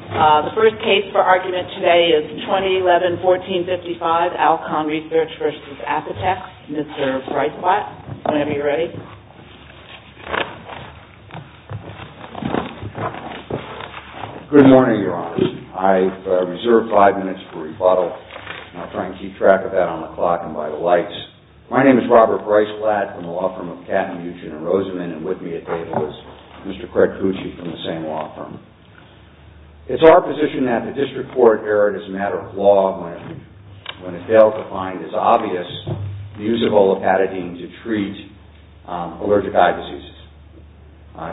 The first case for argument today is 2011-1455, ALCON RESEARCH v. APOTEX. Mr. Bryce Latt, whenever you're ready. Good morning, Your Honor. I've reserved five minutes for rebuttal. I'll try to keep track of that on the clock and by the lights. My name is Robert Bryce Latt from the law firm of Katten, Buchanan, and Rosamond, and with me at table is Mr. Craig Cucci from the same law firm. It's our position that the district court erred as a matter of law when it failed to find as obvious the use of olopatadine to treat allergic eye diseases.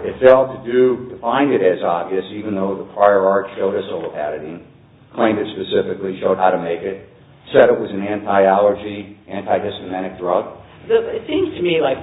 It failed to find it as obvious, even though the prior art showed us olopatadine, claimed it specifically, showed how to make it, said it was an anti-allergy, anti-dysthematic drug. It seems to me like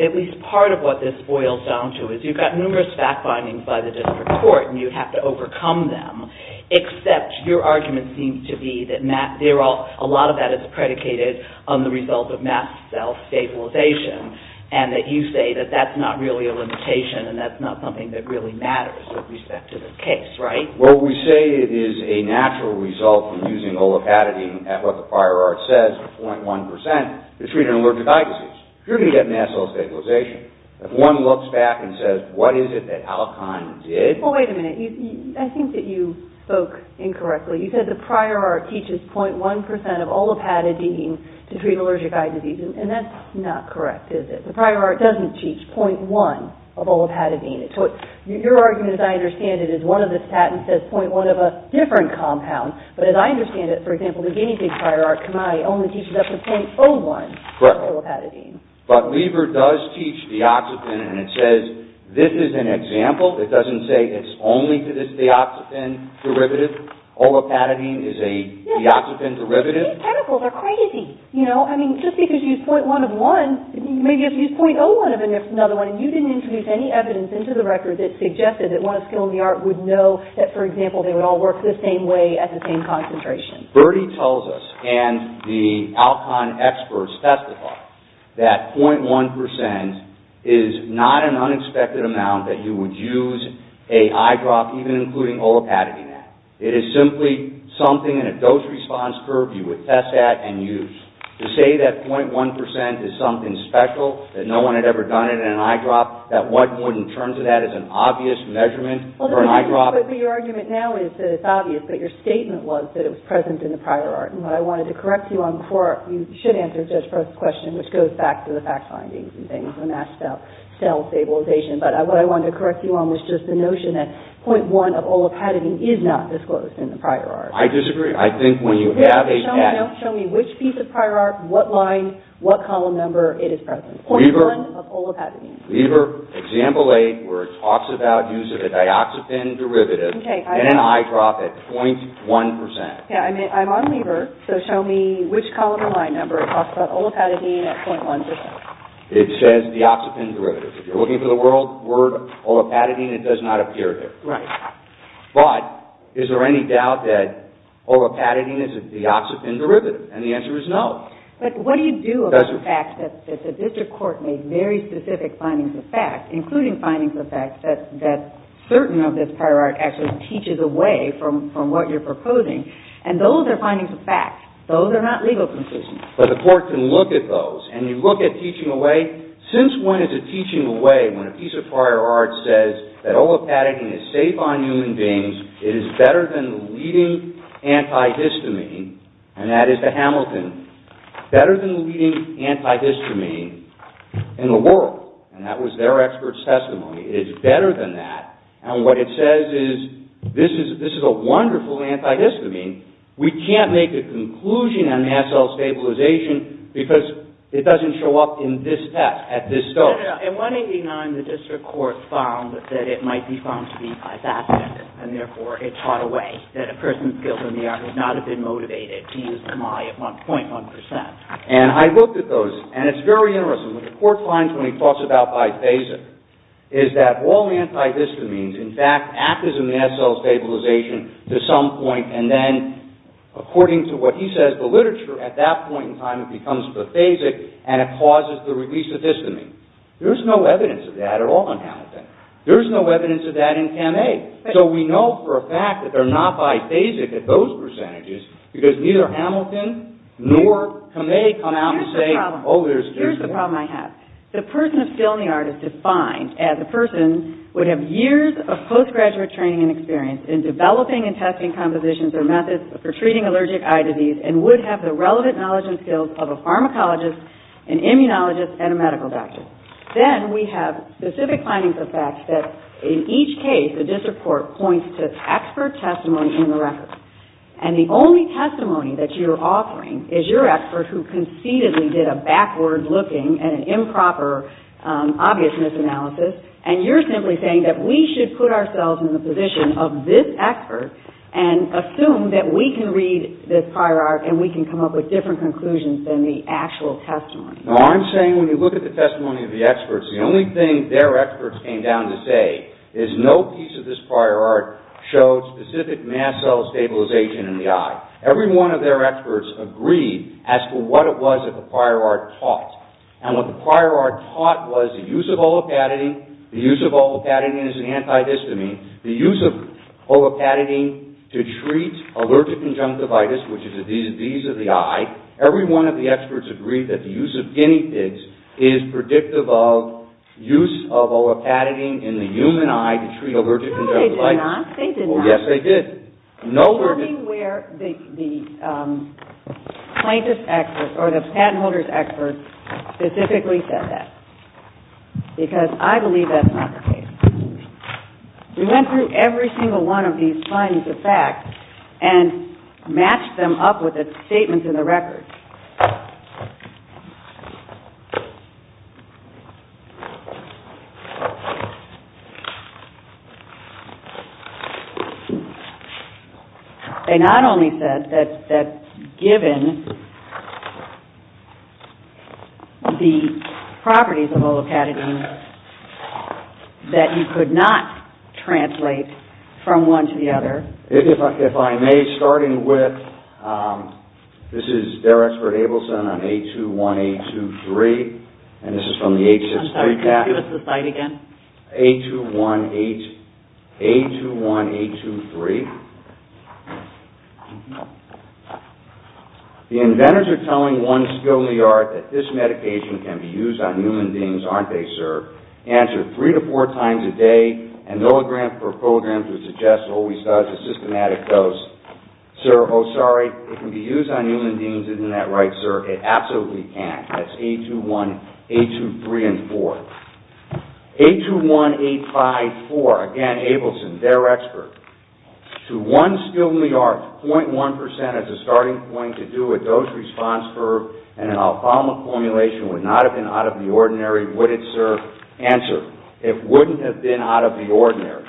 at least part of what this boils down to is you've got numerous fact findings by the district court and you have to overcome them, except your argument seems to be that a lot of that is predicated on the result of mast cell stabilization, and that you say that that's not really a limitation and that's not something that really matters with respect to this case, right? Well, we say it is a natural result from using olopatadine at what the prior art says, 0.1%, to treat an allergic eye disease. You're going to get mast cell stabilization. If one looks back and says, what is it that Alcon did? Well, wait a minute. I think that you spoke incorrectly. You said the prior art teaches 0.1% of olopatadine to treat allergic eye disease, and that's not correct, is it? The prior art doesn't teach 0.1% of olopatadine. Your argument, as I understand it, is one of the statins says 0.1% of a different compound, but as I understand it, for example, the guinea pig prior art, Camai, only teaches up to 0.01% of olopatadine. Correct. But Weaver does teach deoxypen, and it says this is an example. It doesn't say it's only to this deoxypen derivative. Olopatadine is a deoxypen derivative. These chemicals are crazy. Just because you use 0.01 of one, maybe you have to use 0.01 of another one, and you didn't introduce any evidence into the record that suggested that one skill in the art would know that, for example, they would all work the same way at the same concentration. Birdie tells us, and the Alcon experts testify, that 0.1% is not an unexpected amount that you would use a eye drop, even including olopatadine in that. It is simply something in a dose-response curve you would test at and use. To say that 0.1% is something special, that no one had ever done it in an eye drop, that one wouldn't turn to that as an obvious measurement for an eye drop. But your argument now is that it's obvious, but your statement was that it was present in the prior art, and what I wanted to correct you on before you should answer Judge Perth's question, which goes back to the fact findings and things, when asked about cell stabilization, but what I wanted to correct you on was just the notion that 0.1% of olopatadine is not disclosed in the prior art. I disagree. I think when you have a... Show me which piece of prior art, what line, what column number it is present. 0.1% of olopatadine. Lieber, Example 8, where it talks about use of a dioxapine derivative in an eye drop at 0.1%. I'm on Lieber, so show me which column or line number it talks about olopatadine at 0.1%. It says dioxapine derivative. If you're looking for the word olopatadine, it does not appear there. Right. But is there any doubt that olopatadine is a dioxapine derivative? And the answer is no. But what do you do about the fact that the district court made very specific findings of fact, including findings of fact that certain of this prior art actually teaches away from what you're proposing, and those are findings of fact. Those are not legal conclusions. But the court can look at those, and you look at teaching away. Since when is it teaching away when a piece of prior art says that olopatadine is safe on human beings, it is better than the leading antihistamine, and that is the Hamilton, better than the leading antihistamine in the world, and that was their expert's testimony. It is better than that, and what it says is this is a wonderful antihistamine. We can't make a conclusion on mast cell stabilization because it doesn't show up in this test, at this dose. In 189, the district court found that it might be found to be bypassing, and therefore it taught away that a person's guilt in the art would not have been motivated to use the my at 1.1%. And I looked at those, and it's very interesting. What the court finds when he talks about biphasic is that all antihistamines, in fact, act as a mast cell stabilization to some point, and then, according to what he says, the literature at that point in time becomes biphasic, and it causes the release of histamine. There's no evidence of that at all in Hamilton. There's no evidence of that in Kame. So we know for a fact that they're not biphasic at those percentages because neither Hamilton nor Kame come out and say, oh, there's this. Here's the problem I have. The person of skill in the art is defined as a person would have years of postgraduate training and experience in developing and testing compositions or methods for treating allergic eye disease and would have the relevant knowledge and skills of a pharmacologist, an immunologist, and a medical doctor. Then we have specific findings of facts that, in each case, the district court points to expert testimony in the record. And the only testimony that you're offering is your expert who conceitedly did a backward-looking and improper obviousness analysis, and you're simply saying that we should put ourselves in the position of this expert and assume that we can read this prior art and we can come up with different conclusions than the actual testimony. No, I'm saying when you look at the testimony of the experts, the only thing their experts came down to say is no piece of this prior art showed specific mass cell stabilization in the eye. Every one of their experts agreed as to what it was that the prior art taught. And what the prior art taught was the use of olopatadine, the use of olopatadine as an antihistamine, the use of olopatadine to treat allergic conjunctivitis, which is a disease of the eye. Every one of the experts agreed that the use of guinea pigs is predictive of use of olopatadine in the human eye to treat allergic conjunctivitis. No, they did not. Oh, yes, they did. It's funny where the plaintiff's expert or the patent holder's expert specifically said that, because I believe that's not the case. We went through every single one of these signs of fact and matched them up with the statements in the record. They not only said that given the properties of olopatadine that you could not translate from one to the other. If I may, starting with, this is Derek for Abelson on A21, A23. And this is from the H63. I'm sorry, can you give us the slide again? A21, A23. The inventors are telling one skill in the art that this medication can be used on human beings, aren't they, sir? Answer three to four times a day. And no grant for programs would suggest, always does, a systematic dose. Sir, oh, sorry, it can be used on human beings. Isn't that right, sir? It absolutely can. That's A21, A23, and four. A21, A54. Again, Abelson, their expert. To one skill in the art, 0.1% has a starting point to do with dose response curve and an alfalma formulation would not have been out of the ordinary, would it, sir? Answer. It wouldn't have been out of the ordinary.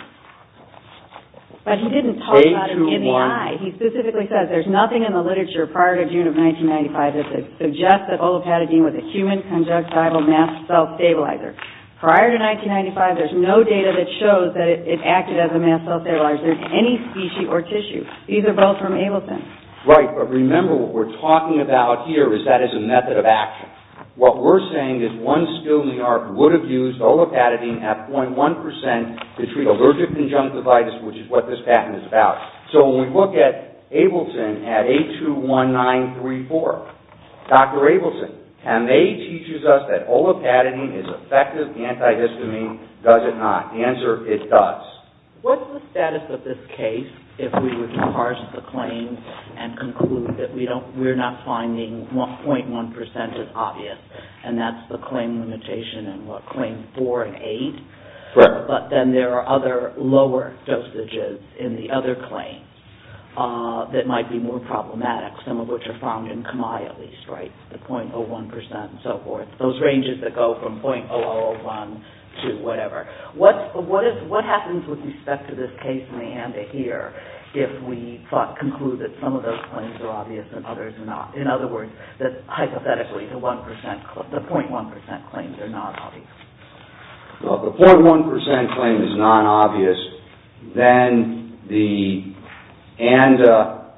But he didn't talk about it in the eye. He specifically says there's nothing in the literature prior to June of 1995 that suggests that olopatadine was a human conjunctival mast cell stabilizer. Prior to 1995, there's no data that shows that it acted as a mast cell stabilizer in any species or tissue. These are both from Abelson. Right, but remember what we're talking about here is that it's a method of action. What we're saying is one skill in the art would have used olopatadine at 0.1% to treat allergic conjunctivitis, which is what this patent is about. So when we look at Abelson at A21, 934, Dr. Abelson, Hamay teaches us that olopatadine is effective antihistamine, does it not? The answer, it does. What's the status of this case if we were to parse the claims and conclude that we're not finding 0.1% as obvious, and that's the claim limitation in what, Claim 4 and 8? Right. But then there are other lower dosages in the other claims that might be more problematic, some of which are found in Kami at least, right, the 0.01% and so forth, those ranges that go from 0.0001 to whatever. What happens with respect to this case in the ANDA here if we conclude that some of those claims are obvious and others are not? In other words, hypothetically, the 0.1% claims are not obvious. Well, if the 0.1% claim is not obvious, then the ANDA,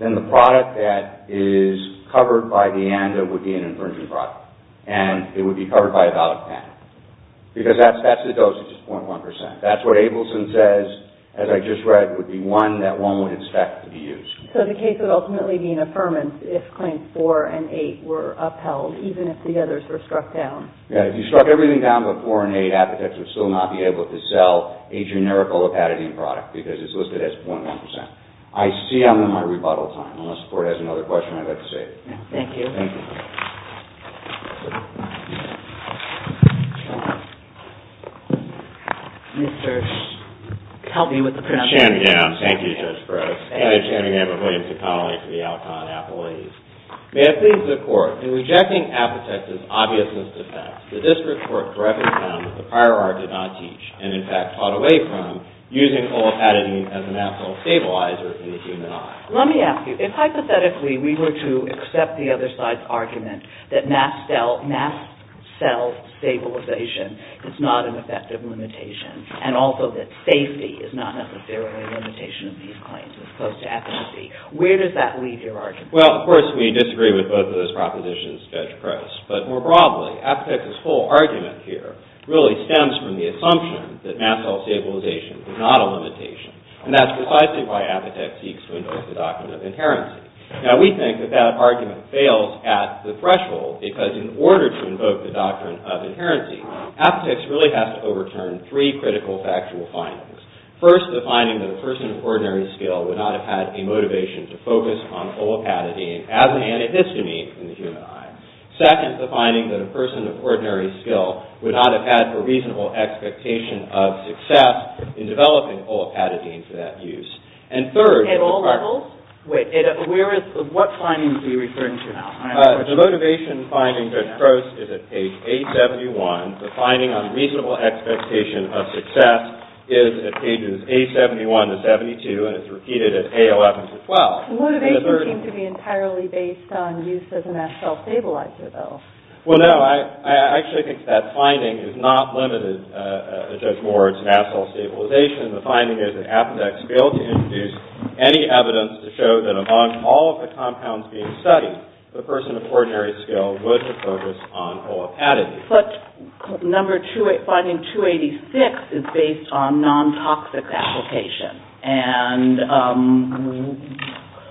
then the product that is covered by the ANDA would be an infringing product, and it would be covered by a valid patent, because that's the dosage, 0.1%. That's what Abelson says, as I just read, would be one that one would expect to be used. So the case would ultimately be an affirmance if Claims 4 and 8 were upheld, even if the others were struck down. Yeah, if you struck everything down but 4 and 8, advocates would still not be able to sell a generic olopatadine product because it's listed as 0.1%. I see I'm in my rebuttal time. Unless the Court has another question, I'd like to save it. Thank you. Thank you. Mr. Chamgam, thank you, Judge Brooks. Hi, I'm Chamgam. I'm a Williamson colleague for the Alcon appellees. May I please the Court? In rejecting Apotex's obviousness defense, the District Court correctly found that the prior art did not teach, and in fact fought away from, using olopatadine as an absolute stabilizer in the human eye. Let me ask you, if hypothetically we were to accept the other side's argument that mass cell stabilization is not an effective limitation, and also that safety is not necessarily a limitation of these claims as opposed to efficacy, where does that leave your argument? Well, of course we disagree with both of those propositions, Judge Press, but more broadly, Apotex's whole argument here really stems from the assumption that mass cell stabilization is not a limitation, and that's precisely why Apotex seeks to invoke the doctrine of inherency. Now we think that that argument fails at the threshold, because in order to invoke the doctrine of inherency, Apotex really has to overturn three critical factual findings. First, the finding that a person of ordinary skill would not have had a motivation to focus on olopatadine as an antihistamine in the human eye. Second, the finding that a person of ordinary skill would not have had a reasonable expectation of success in developing olopatadine for that use. At all levels? What findings are you referring to now? The motivation finding, Judge Press, is at page 871. The finding on reasonable expectation of success is at pages 871-72, and it's repeated at page 811-12. Motivation seems to be entirely based on use of the mass cell stabilizer, though. Well, no, I actually think that finding is not limited, Judge Ward, to mass cell stabilization. The finding is that Apotex failed to introduce any evidence to show that among all of the compounds being studied, the person of ordinary skill would have focused on olopatadine. But finding 286 is based on nontoxic application, and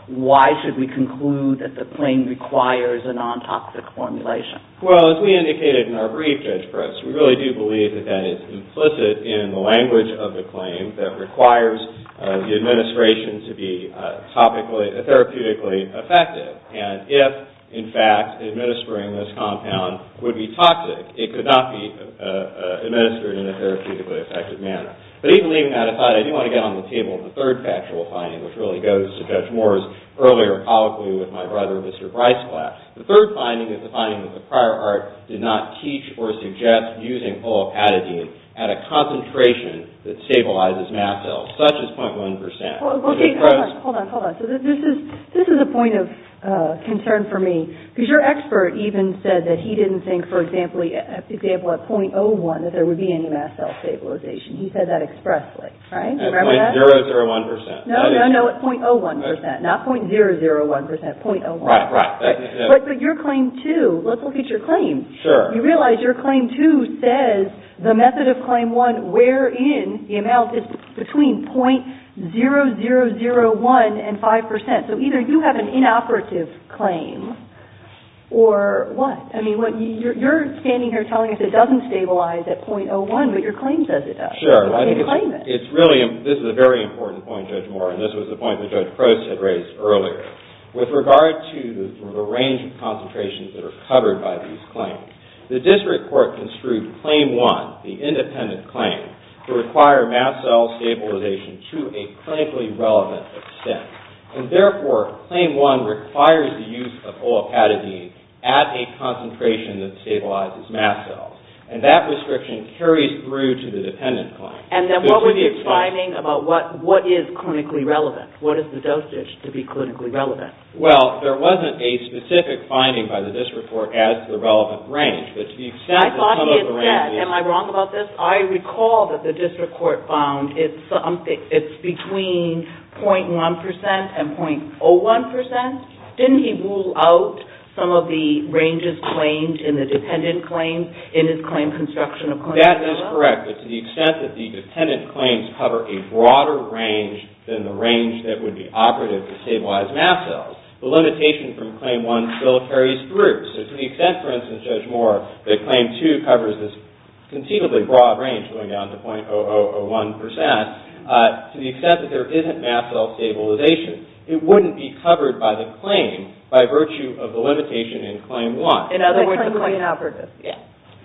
why should we conclude that the claim requires a nontoxic formulation? Well, as we indicated in our brief, Judge Press, we really do believe that that is implicit in the language of the claim that requires the administration to be therapeutically effective, and if, in fact, administering this compound would be toxic, it could not be administered in a therapeutically effective manner. But even leaving that aside, I do want to get on the table of the third factual finding, which really goes to Judge Ward's earlier colloquy with my brother, Mr. Bryce, class. The third finding is the finding that the prior art did not teach or suggest using olopatadine at a concentration that stabilizes mass cells, such as 0.1%. Okay, hold on, hold on. So this is a point of concern for me, because your expert even said that he didn't think, for example, at 0.01 that there would be any mass cell stabilization. He said that expressly, right? At 0.001%. No, no, no, at 0.01%, not 0.001%, 0.01. Right, right. But your claim, too, let's look at your claim. Sure. You realize your claim, too, says the method of claim one, wherein the amount is between 0.0001 and 5%. So either you have an inoperative claim or what? I mean, you're standing here telling us it doesn't stabilize at 0.01, but your claim says it does. Sure. You claim it. This is a very important point, Judge Moore, and this was the point that Judge Crouse had raised earlier. With regard to the range of concentrations that are covered by these claims, the district court construed claim one, the independent claim, to require mass cell stabilization to a clinically relevant extent. And therefore, claim one requires the use of olopatadine at a concentration that stabilizes mass cells. And that restriction carries through to the dependent claim. And then what was your finding about what is clinically relevant? What is the dosage to be clinically relevant? Well, there wasn't a specific finding by the district court as to the relevant range. I thought he had said, am I wrong about this? I recall that the district court found it's between 0.1% and 0.01%. Didn't he rule out some of the ranges claimed in the dependent claims in his claim construction of claim one? That is correct. But to the extent that the dependent claims cover a broader range than the range that would be operative to stabilize mass cells, the limitation from claim one still carries through. So to the extent, for instance, Judge Moore, that claim two covers this conceivably broad range going down to 0.0001%, to the extent that there isn't mass cell stabilization, it wouldn't be covered by the claim by virtue of the limitation in claim one. In other words, the claim would be operative.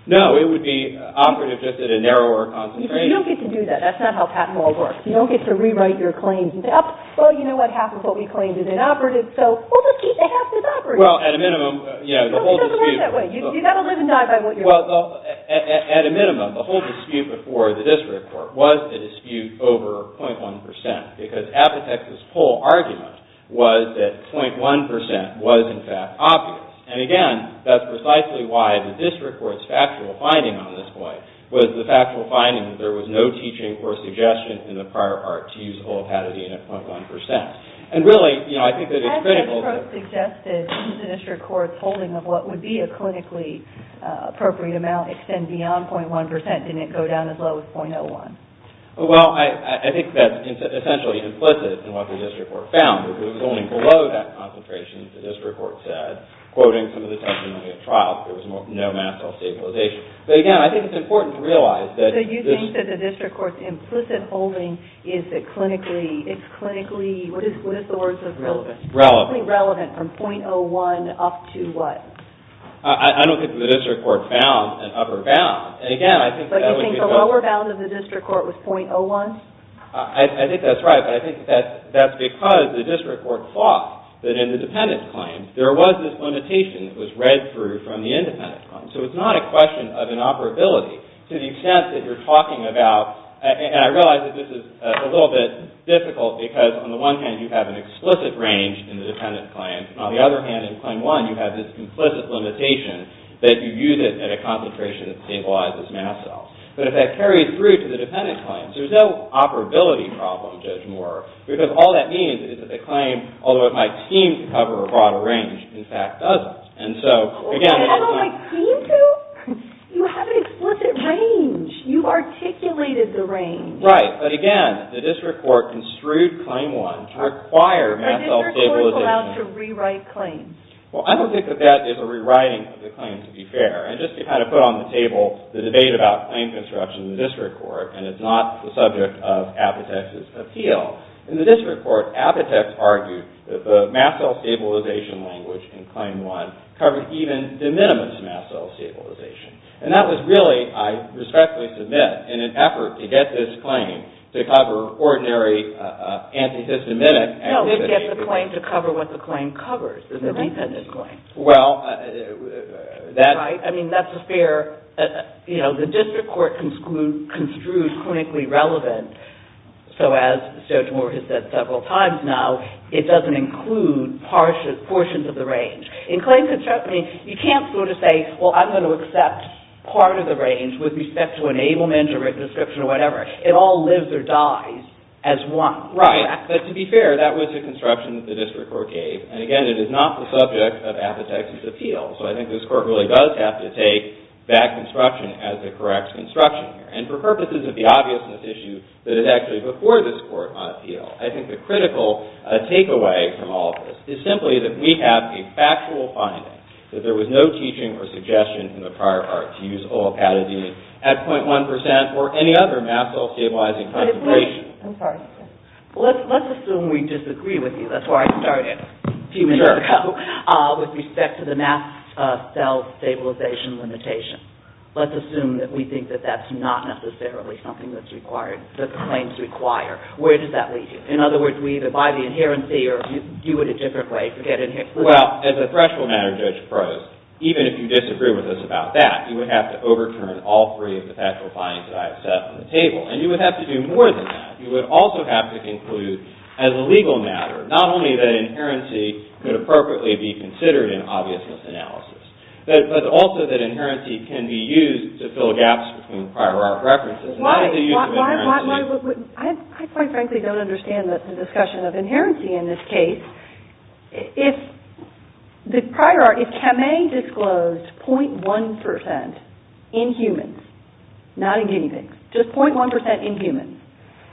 No, it would be operative just at a narrower concentration. You don't get to do that. That's not how patent law works. You don't get to rewrite your claims and say, oh, you know what, half of what we claimed is inoperative, so we'll just keep the half that's operative. Well, at a minimum, the whole dispute... You've got to live and die by what you're claiming. Well, at a minimum, the whole dispute before the district court was the dispute over 0.1%, because Apotex's whole argument was that 0.1% was, in fact, obvious. And, again, that's precisely why the district court's factual finding on this point was the factual finding that there was no teaching or suggestion in the prior part to use a whole patented unit of 0.1%. And really, you know, I think that it's critical... I think that the court suggested the district court's holding of what would be a clinically appropriate amount extended beyond 0.1% didn't go down as low as 0.01%. Well, I think that's essentially implicit in what the district court found. It was only below that concentration, the district court said, quoting some of the testimony at trial, that there was no mast cell stabilization. But, again, I think it's important to realize that... So you think that the district court's implicit holding is clinically... It's clinically... What is the word? Relevant. Clinically relevant from 0.01% up to what? I don't think the district court found an upper bound. But you think the lower bound of the district court was 0.01? I think that's right, but I think that's because the district court thought that in the dependent claim, there was this limitation that was read through from the independent claim. So it's not a question of inoperability to the extent that you're talking about... And I realize that this is a little bit difficult because, on the one hand, you have an explicit range in the dependent claim. On the other hand, in claim one, you have this implicit limitation that you use it at a concentration that stabilizes mast cells. But if that carried through to the dependent claims, there's no operability problem, Judge Moore, because all that means is that the claim, although it might seem to cover a broader range, in fact doesn't. And so, again... Although it might seem to? You have an explicit range. You articulated the range. Right, but, again, the district court construed claim one to require mast cell stabilization. But is the district court allowed to rewrite claims? Well, I don't think that that is a rewriting of the claim, to be fair. And just to kind of put on the table the debate about claim construction in the district court, and it's not the subject of Apotek's appeal. In the district court, Apotek argued that the mast cell stabilization language in claim one covered even the minimum of mast cell stabilization. And that was really, I respectfully submit, in an effort to get this claim to cover ordinary anti-systematic... No, to get the claim to cover what the claim covers. Well, that... Right, I mean, that's a fair... You know, the district court construed clinically relevant. So, as Joe Jemora has said several times now, it doesn't include portions of the range. In claim construction, you can't sort of say, well, I'm going to accept part of the range with respect to enablement or description or whatever. It all lives or dies as one. Right, but to be fair, that was a construction that the district court gave. And again, it is not the subject of Apotek's appeal. So, I think this court really does have to take that construction as the correct construction here. And for purposes of the obviousness issue that is actually before this court on appeal, I think the critical takeaway from all of this is simply that we have a factual finding that there was no teaching or suggestion in the prior part to use OLPATA-D at 0.1% or any other mast cell stabilizing... I'm sorry. Let's assume we disagree with you. That's where I started a few minutes ago with respect to the mast cell stabilization limitation. Let's assume that we think that that's not necessarily something that's required, that the claims require. Where does that lead you? In other words, we either buy the inherency or do it a different way, forget it. Well, as a threshold matter, Judge Prose, even if you disagree with us about that, you would have to overturn all three of the factual findings that I have set on the table. And you would have to do more than that. You would also have to conclude, as a legal matter, not only that inherency could appropriately be considered in obviousness analysis, but also that inherency can be used to fill gaps between prior art references. Why would... I quite frankly don't understand the discussion of inherency in this case. If the prior art... If Kamei disclosed 0.1% in humans, not in guinea pigs, just 0.1% in humans,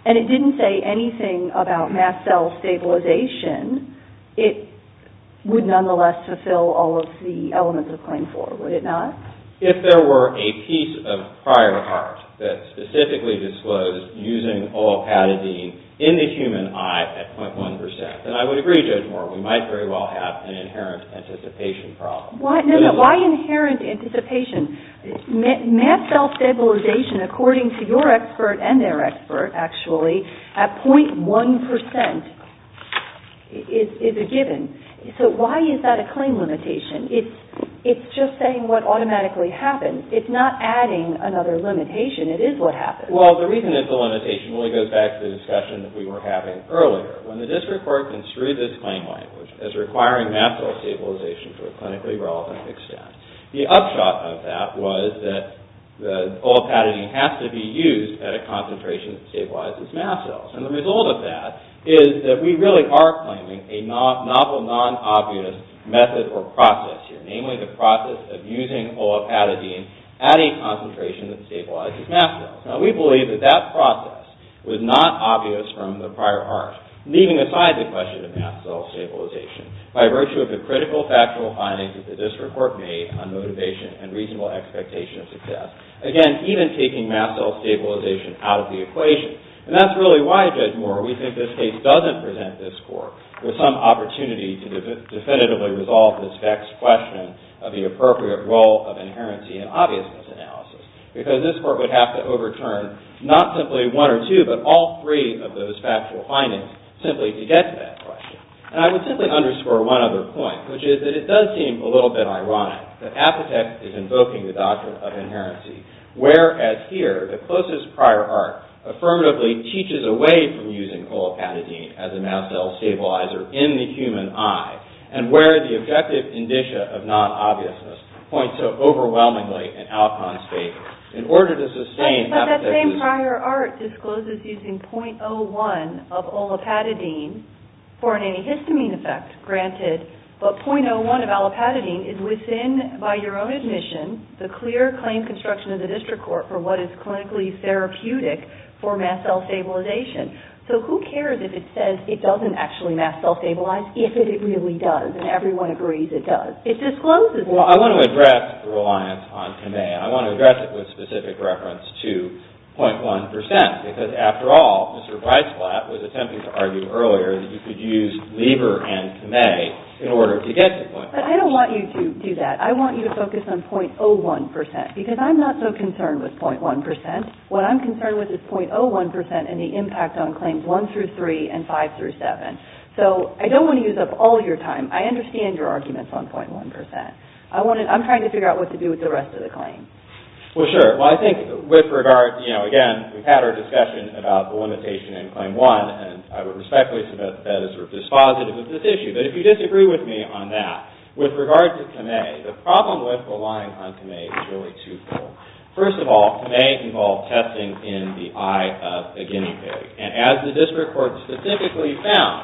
and it didn't say anything about mast cell stabilization, it would nonetheless fulfill all of the elements of Claim 4, would it not? If there were a piece of prior art that specifically disclosed using olipatidine in the human eye at 0.1%, then I would agree, Judge Moore, we might very well have an inherent anticipation problem. Why inherent anticipation? Mast cell stabilization, according to your expert and their expert, actually, at 0.1% is a given. So why is that a claim limitation? It's just saying what automatically happens. It's not adding another limitation. It is what happens. Well, the reason it's a limitation really goes back to the discussion that we were having earlier. When the District Court construed this claim language as requiring mast cell stabilization to a clinically relevant extent, the upshot of that was that olipatidine has to be used at a concentration that stabilizes mast cells. And the result of that is that we really are claiming a novel non-obvious method or process here, namely the process of using olipatidine at a concentration that stabilizes mast cells. Now, we believe that that process was not obvious from the prior art, leaving aside the question of mast cell stabilization. By virtue of the critical factual findings that the District Court made on motivation and reasonable expectation of success, again, even taking mast cell stabilization out of the equation. And that's really why, Judge Moore, we think this case doesn't present this Court with some opportunity to definitively resolve this vexed question of the appropriate role of inherency in obviousness analysis, because this Court would have to overturn not simply one or two, but all three of those factual findings simply to get to that question. And I would simply underscore one other point, which is that it does seem a little bit ironic that Apotex is invoking the doctrine of inherency, whereas here, the closest prior art affirmatively teaches away from using olipatidine as a mast cell stabilizer in the human eye, and where the objective indicia of non-obviousness point so overwhelmingly in Alcon's favor. In order to sustain Apotex's... But that same prior art discloses using 0.01 of olipatidine for an antihistamine effect, granted. But 0.01 of olipatidine is within, by your own admission, the clear claim construction of the District Court for what is clinically therapeutic for mast cell stabilization. So who cares if it says it doesn't actually mast cell stabilize if it really does, and everyone agrees it does? It discloses it. Well, I want to address the reliance on Kamea. I want to address it with specific reference to 0.1 percent, because after all, Mr. Weissblatt was attempting to argue earlier that you could use Lieber and Kamea in order to get to 0.1 percent. But I don't want you to do that. I want you to focus on 0.01 percent, because I'm not so concerned with 0.1 percent. What I'm concerned with is 0.01 percent and the impact on claims 1 through 3 and 5 through 7. So I don't want to use up all your time. I understand your arguments on 0.1 percent. I'm trying to figure out what to do with the rest of the claim. Well, sure. Well, I think with regard, again, we've had our discussion about the limitation in claim one, and I would respectfully submit that as sort of dispositive of this issue. But if you disagree with me on that, with regard to Kamea, the problem with relying on Kamea is really twofold. First of all, Kamea involved testing in the eye of a guinea pig. And as the district court specifically found,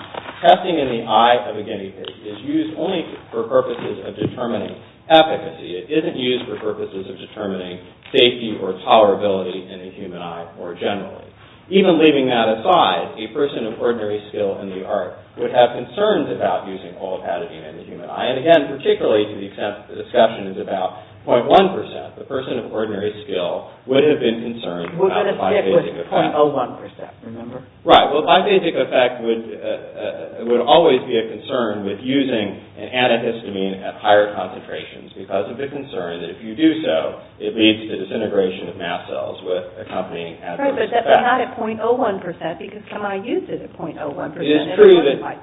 testing in the eye of a guinea pig is used only for purposes of determining efficacy. It isn't used for purposes of determining safety or tolerability in the human eye more generally. Even leaving that aside, a person of ordinary skill in the art would have concerns about using olive adenine in the human eye. And again, particularly to the extent that the discussion is about 0.1 percent, a person of ordinary skill would have been concerned about the bivasic effect. We're going to stick with 0.01 percent, remember? Right. Well, bivasic effect would always be a concern with using an antihistamine at higher concentrations because of the concern that if you do so, it leads to disintegration of mast cells with accompanying adverse effects. Right, but that's not at 0.01 percent because Kamei used it at 0.01 percent.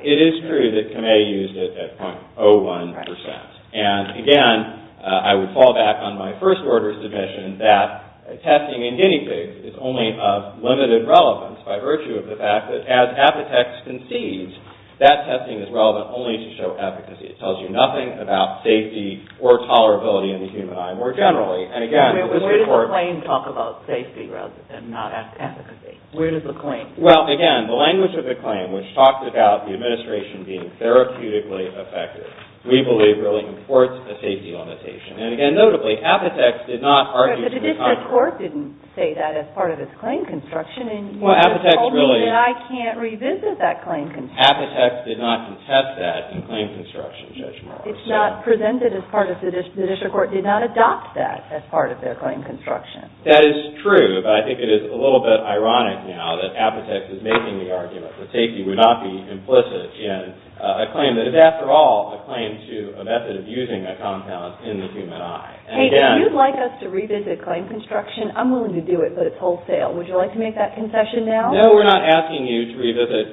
It is true that Kamei used it at 0.01 percent. And again, I would fall back on my first-order submission that testing in guinea pigs is only of limited relevance by virtue of the fact that as apotex concedes, that testing is relevant only to show efficacy. It tells you nothing about safety or tolerability in the human eye more generally. And again... Where does the claim talk about safety rather than not efficacy? Where does the claim... Well, again, the language of the claim which talks about the administration being therapeutically effective, we believe, really imports a safety limitation. And again, notably, apotex did not argue to the contrary. But the district court didn't say that as part of its claim construction and you just told me that I can't revisit that claim construction. Apotex did not contest that in claim construction judgment. It's not presented as part of... The district court did not adopt that as part of their claim construction. That is true, but I think it is a little bit ironic now that apotex is making the argument that safety would not be implicit in a claim that is, after all, a claim to a method of using a compound in the human eye. And again... Hey, if you'd like us to revisit claim construction, I'm willing to do it, but it's wholesale. Would you like to make that concession now? No, we're not asking you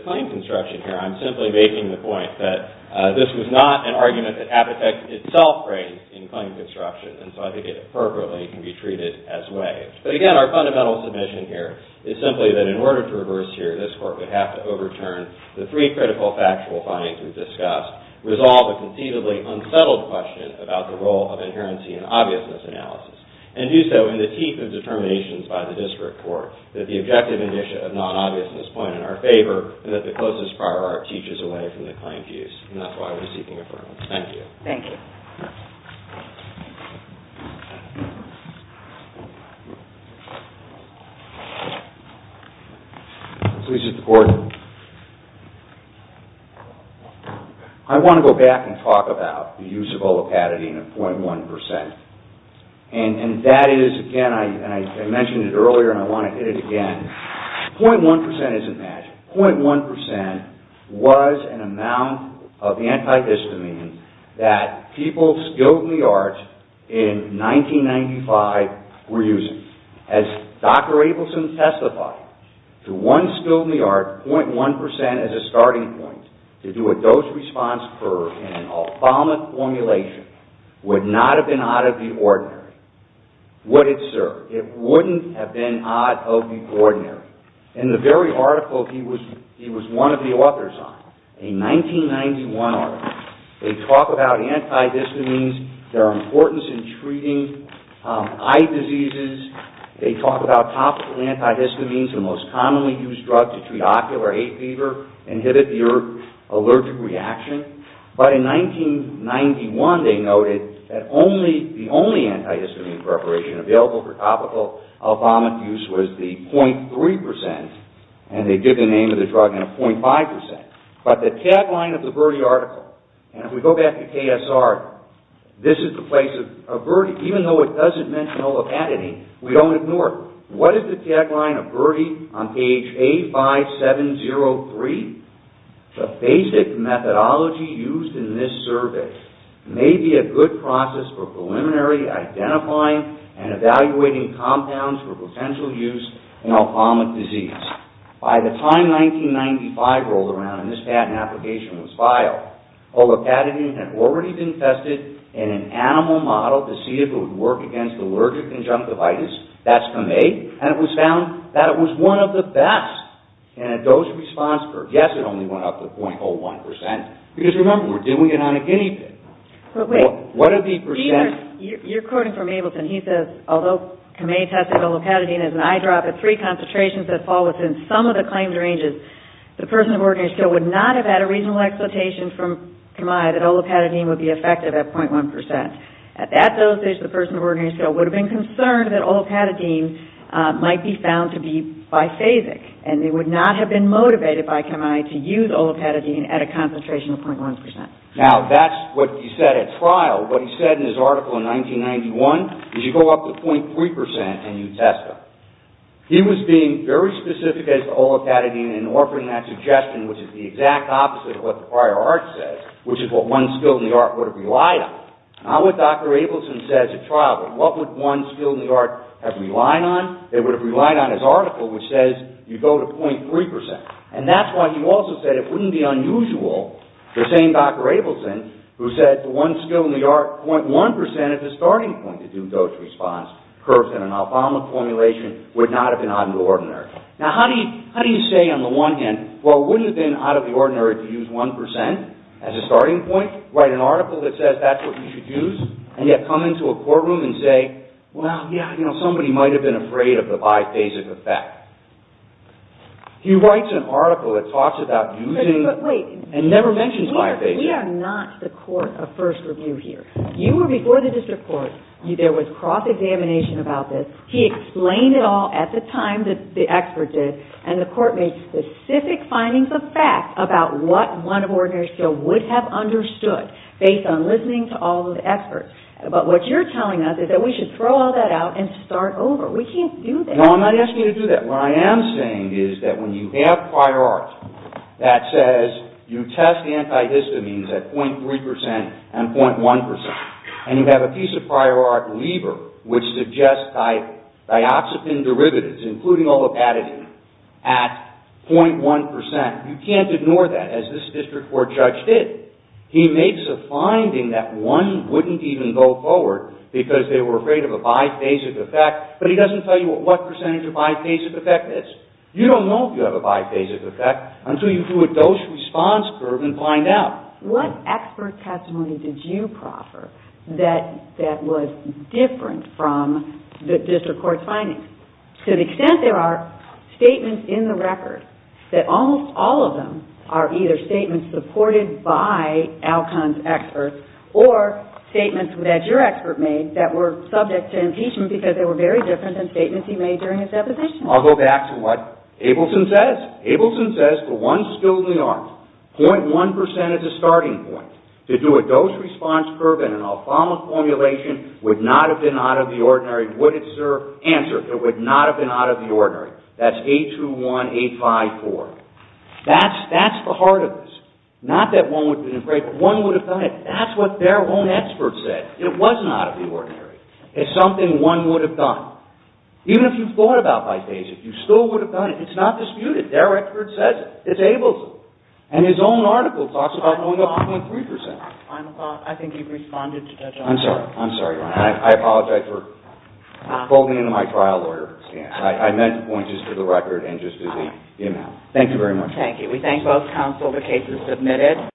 claim construction here. I'm simply making the point that this was not an argument that apotex itself raised in claim construction. And so I think it appropriately can be treated as way. But again, our fundamental submission here is simply that in order to reverse here, this court would have to overturn the three critical factual findings we've discussed, resolve a conceivably unsettled question about the role of inherency and obviousness analysis, and do so in the teeth of determinations by the district court that the objective of non-obviousness point in our favor and that the closest prior art teaches away from the claimed use. And that's why we're seeking affirmance. Thank you. Thank you. Please, Mr. Gordon. I want to go back and talk about the use of olipatidine at .1%. And that is, again, I mentioned it earlier and I want to hit it again. .1% isn't matched. .1% was an amount of antihistamine that people skilled in the arts in 1995 were using. As Dr. Abelson testified, to one skilled in the arts, .1% as a starting point to do a dose response curve in an ophthalmic formulation would not have been out of the ordinary. Would it, sir? It wouldn't have been out of the ordinary. In the very article he was one of the authors on, a 1991 article, they talk about antihistamines, their importance in treating eye diseases, they talk about topical antihistamines, the most commonly used drug to treat ocular hay fever, inhibit the allergic reaction, but in 1991 they noted that the only antihistamine preparation available for topical ophthalmic use was the .3%, and they give the name of the drug in a .5%. But the tagline of the Verde article, and if we go back to KSR, this is the place of Verde, even though it doesn't mention olipatidine, we don't ignore it. What is the tagline of Verde on page A5703? The basic methodology used in this survey may be a good process for preliminary identifying and evaluating compounds for potential use in ophthalmic disease. By the time 1995 rolled around and this patent application was filed, olipatidine had already been tested in an animal model to see if it would work against allergic conjunctive arthritis, that's Kamei, and it was found that it was one of the best, and a dose response curve. Yes, it only went up to .01%, because remember, we're doing it on a guinea pig. What are the percent... You're quoting from Ableton. He says, although Kamei tested olipatidine as an eyedrop at three concentrations that fall within some of the claimed ranges, the person of ordinary skill would not have had a reasonable expectation from Kamei that olipatidine would be effective at .1%. At that dosage, the person of ordinary skill would have been concerned that olipatidine might be found to be biphasic, and they would not have been motivated by Kamei to use olipatidine at a concentration of .1%. Now, that's what he said at trial. What he said in his article in 1991 is you go up to .3% and you test them. He was being very specific as to olipatidine and offering that suggestion, which is the exact opposite of what the prior art says, which is what one skill in the art would have relied on. Now what Dr. Ableton says at trial, what would one skill in the art have relied on? They would have relied on his article, which says you go to .3%. And that's why he also said it wouldn't be unusual for the same Dr. Ableton who said the one skill in the art, .1% is a starting point to do dose response curves in an albama formulation would not have been out of the ordinary. Now, how do you say on the one hand, well, wouldn't it have been out of the ordinary to use 1% as a starting point, write an article that says that's what you should use, and yet come into a courtroom and say, well, yeah, you know, somebody might have been afraid of the biphasic effect. He writes an article that talks about using and never mentions biphasic. But wait, we are not the court of first review here. You were before the district court. There was cross-examination about this. He explained it all at the time that the expert did, and the court made specific findings of fact about what one ordinary skill would have understood based on listening to all of the experts. But what you're telling us is that we should throw all that out and start over. We can't do that. No, I'm not asking you to do that. What I am saying is that when you have prior art that says you test antihistamines at 0.3% and 0.1%, and you have a piece of prior art, Lieber, which suggests dioxepin derivatives, you can't ignore that, as this district court judge did. He makes a finding that one wouldn't even know that there was an antihistamine at 0.1%. He doesn't go forward because they were afraid of a biphasic effect, but he doesn't tell you what percentage a biphasic effect is. You don't know if you have a biphasic effect until you do a dose-response curve and find out. What expert testimony did you proffer that was different from the district court's findings? To the extent there are statements in the record that almost all of them are either statements supported by Alcon's experts or statements with a dose response curve that your expert made that were subject to impeachment because they were very different than statements he made during his deposition. I'll go back to what Abelson says. Abelson says the ones still in the arms, 0.1% is a starting point. To do a dose-response curve in an Alcon formulation would not have been out of the ordinary. Would it serve? Answer, it would not have been out of the ordinary. That's 821854. That's the heart of this. Not that one would have been afraid, but one would have done it. That's what their own expert said. It was not out of the ordinary. It's something one would have done. Even if you thought about biphagia, you still would have done it. It's not disputed. Their expert says it. It's Abelson. And his own article talks about going up 0.3%. I apologize for folding into my trial lawyer stance. I meant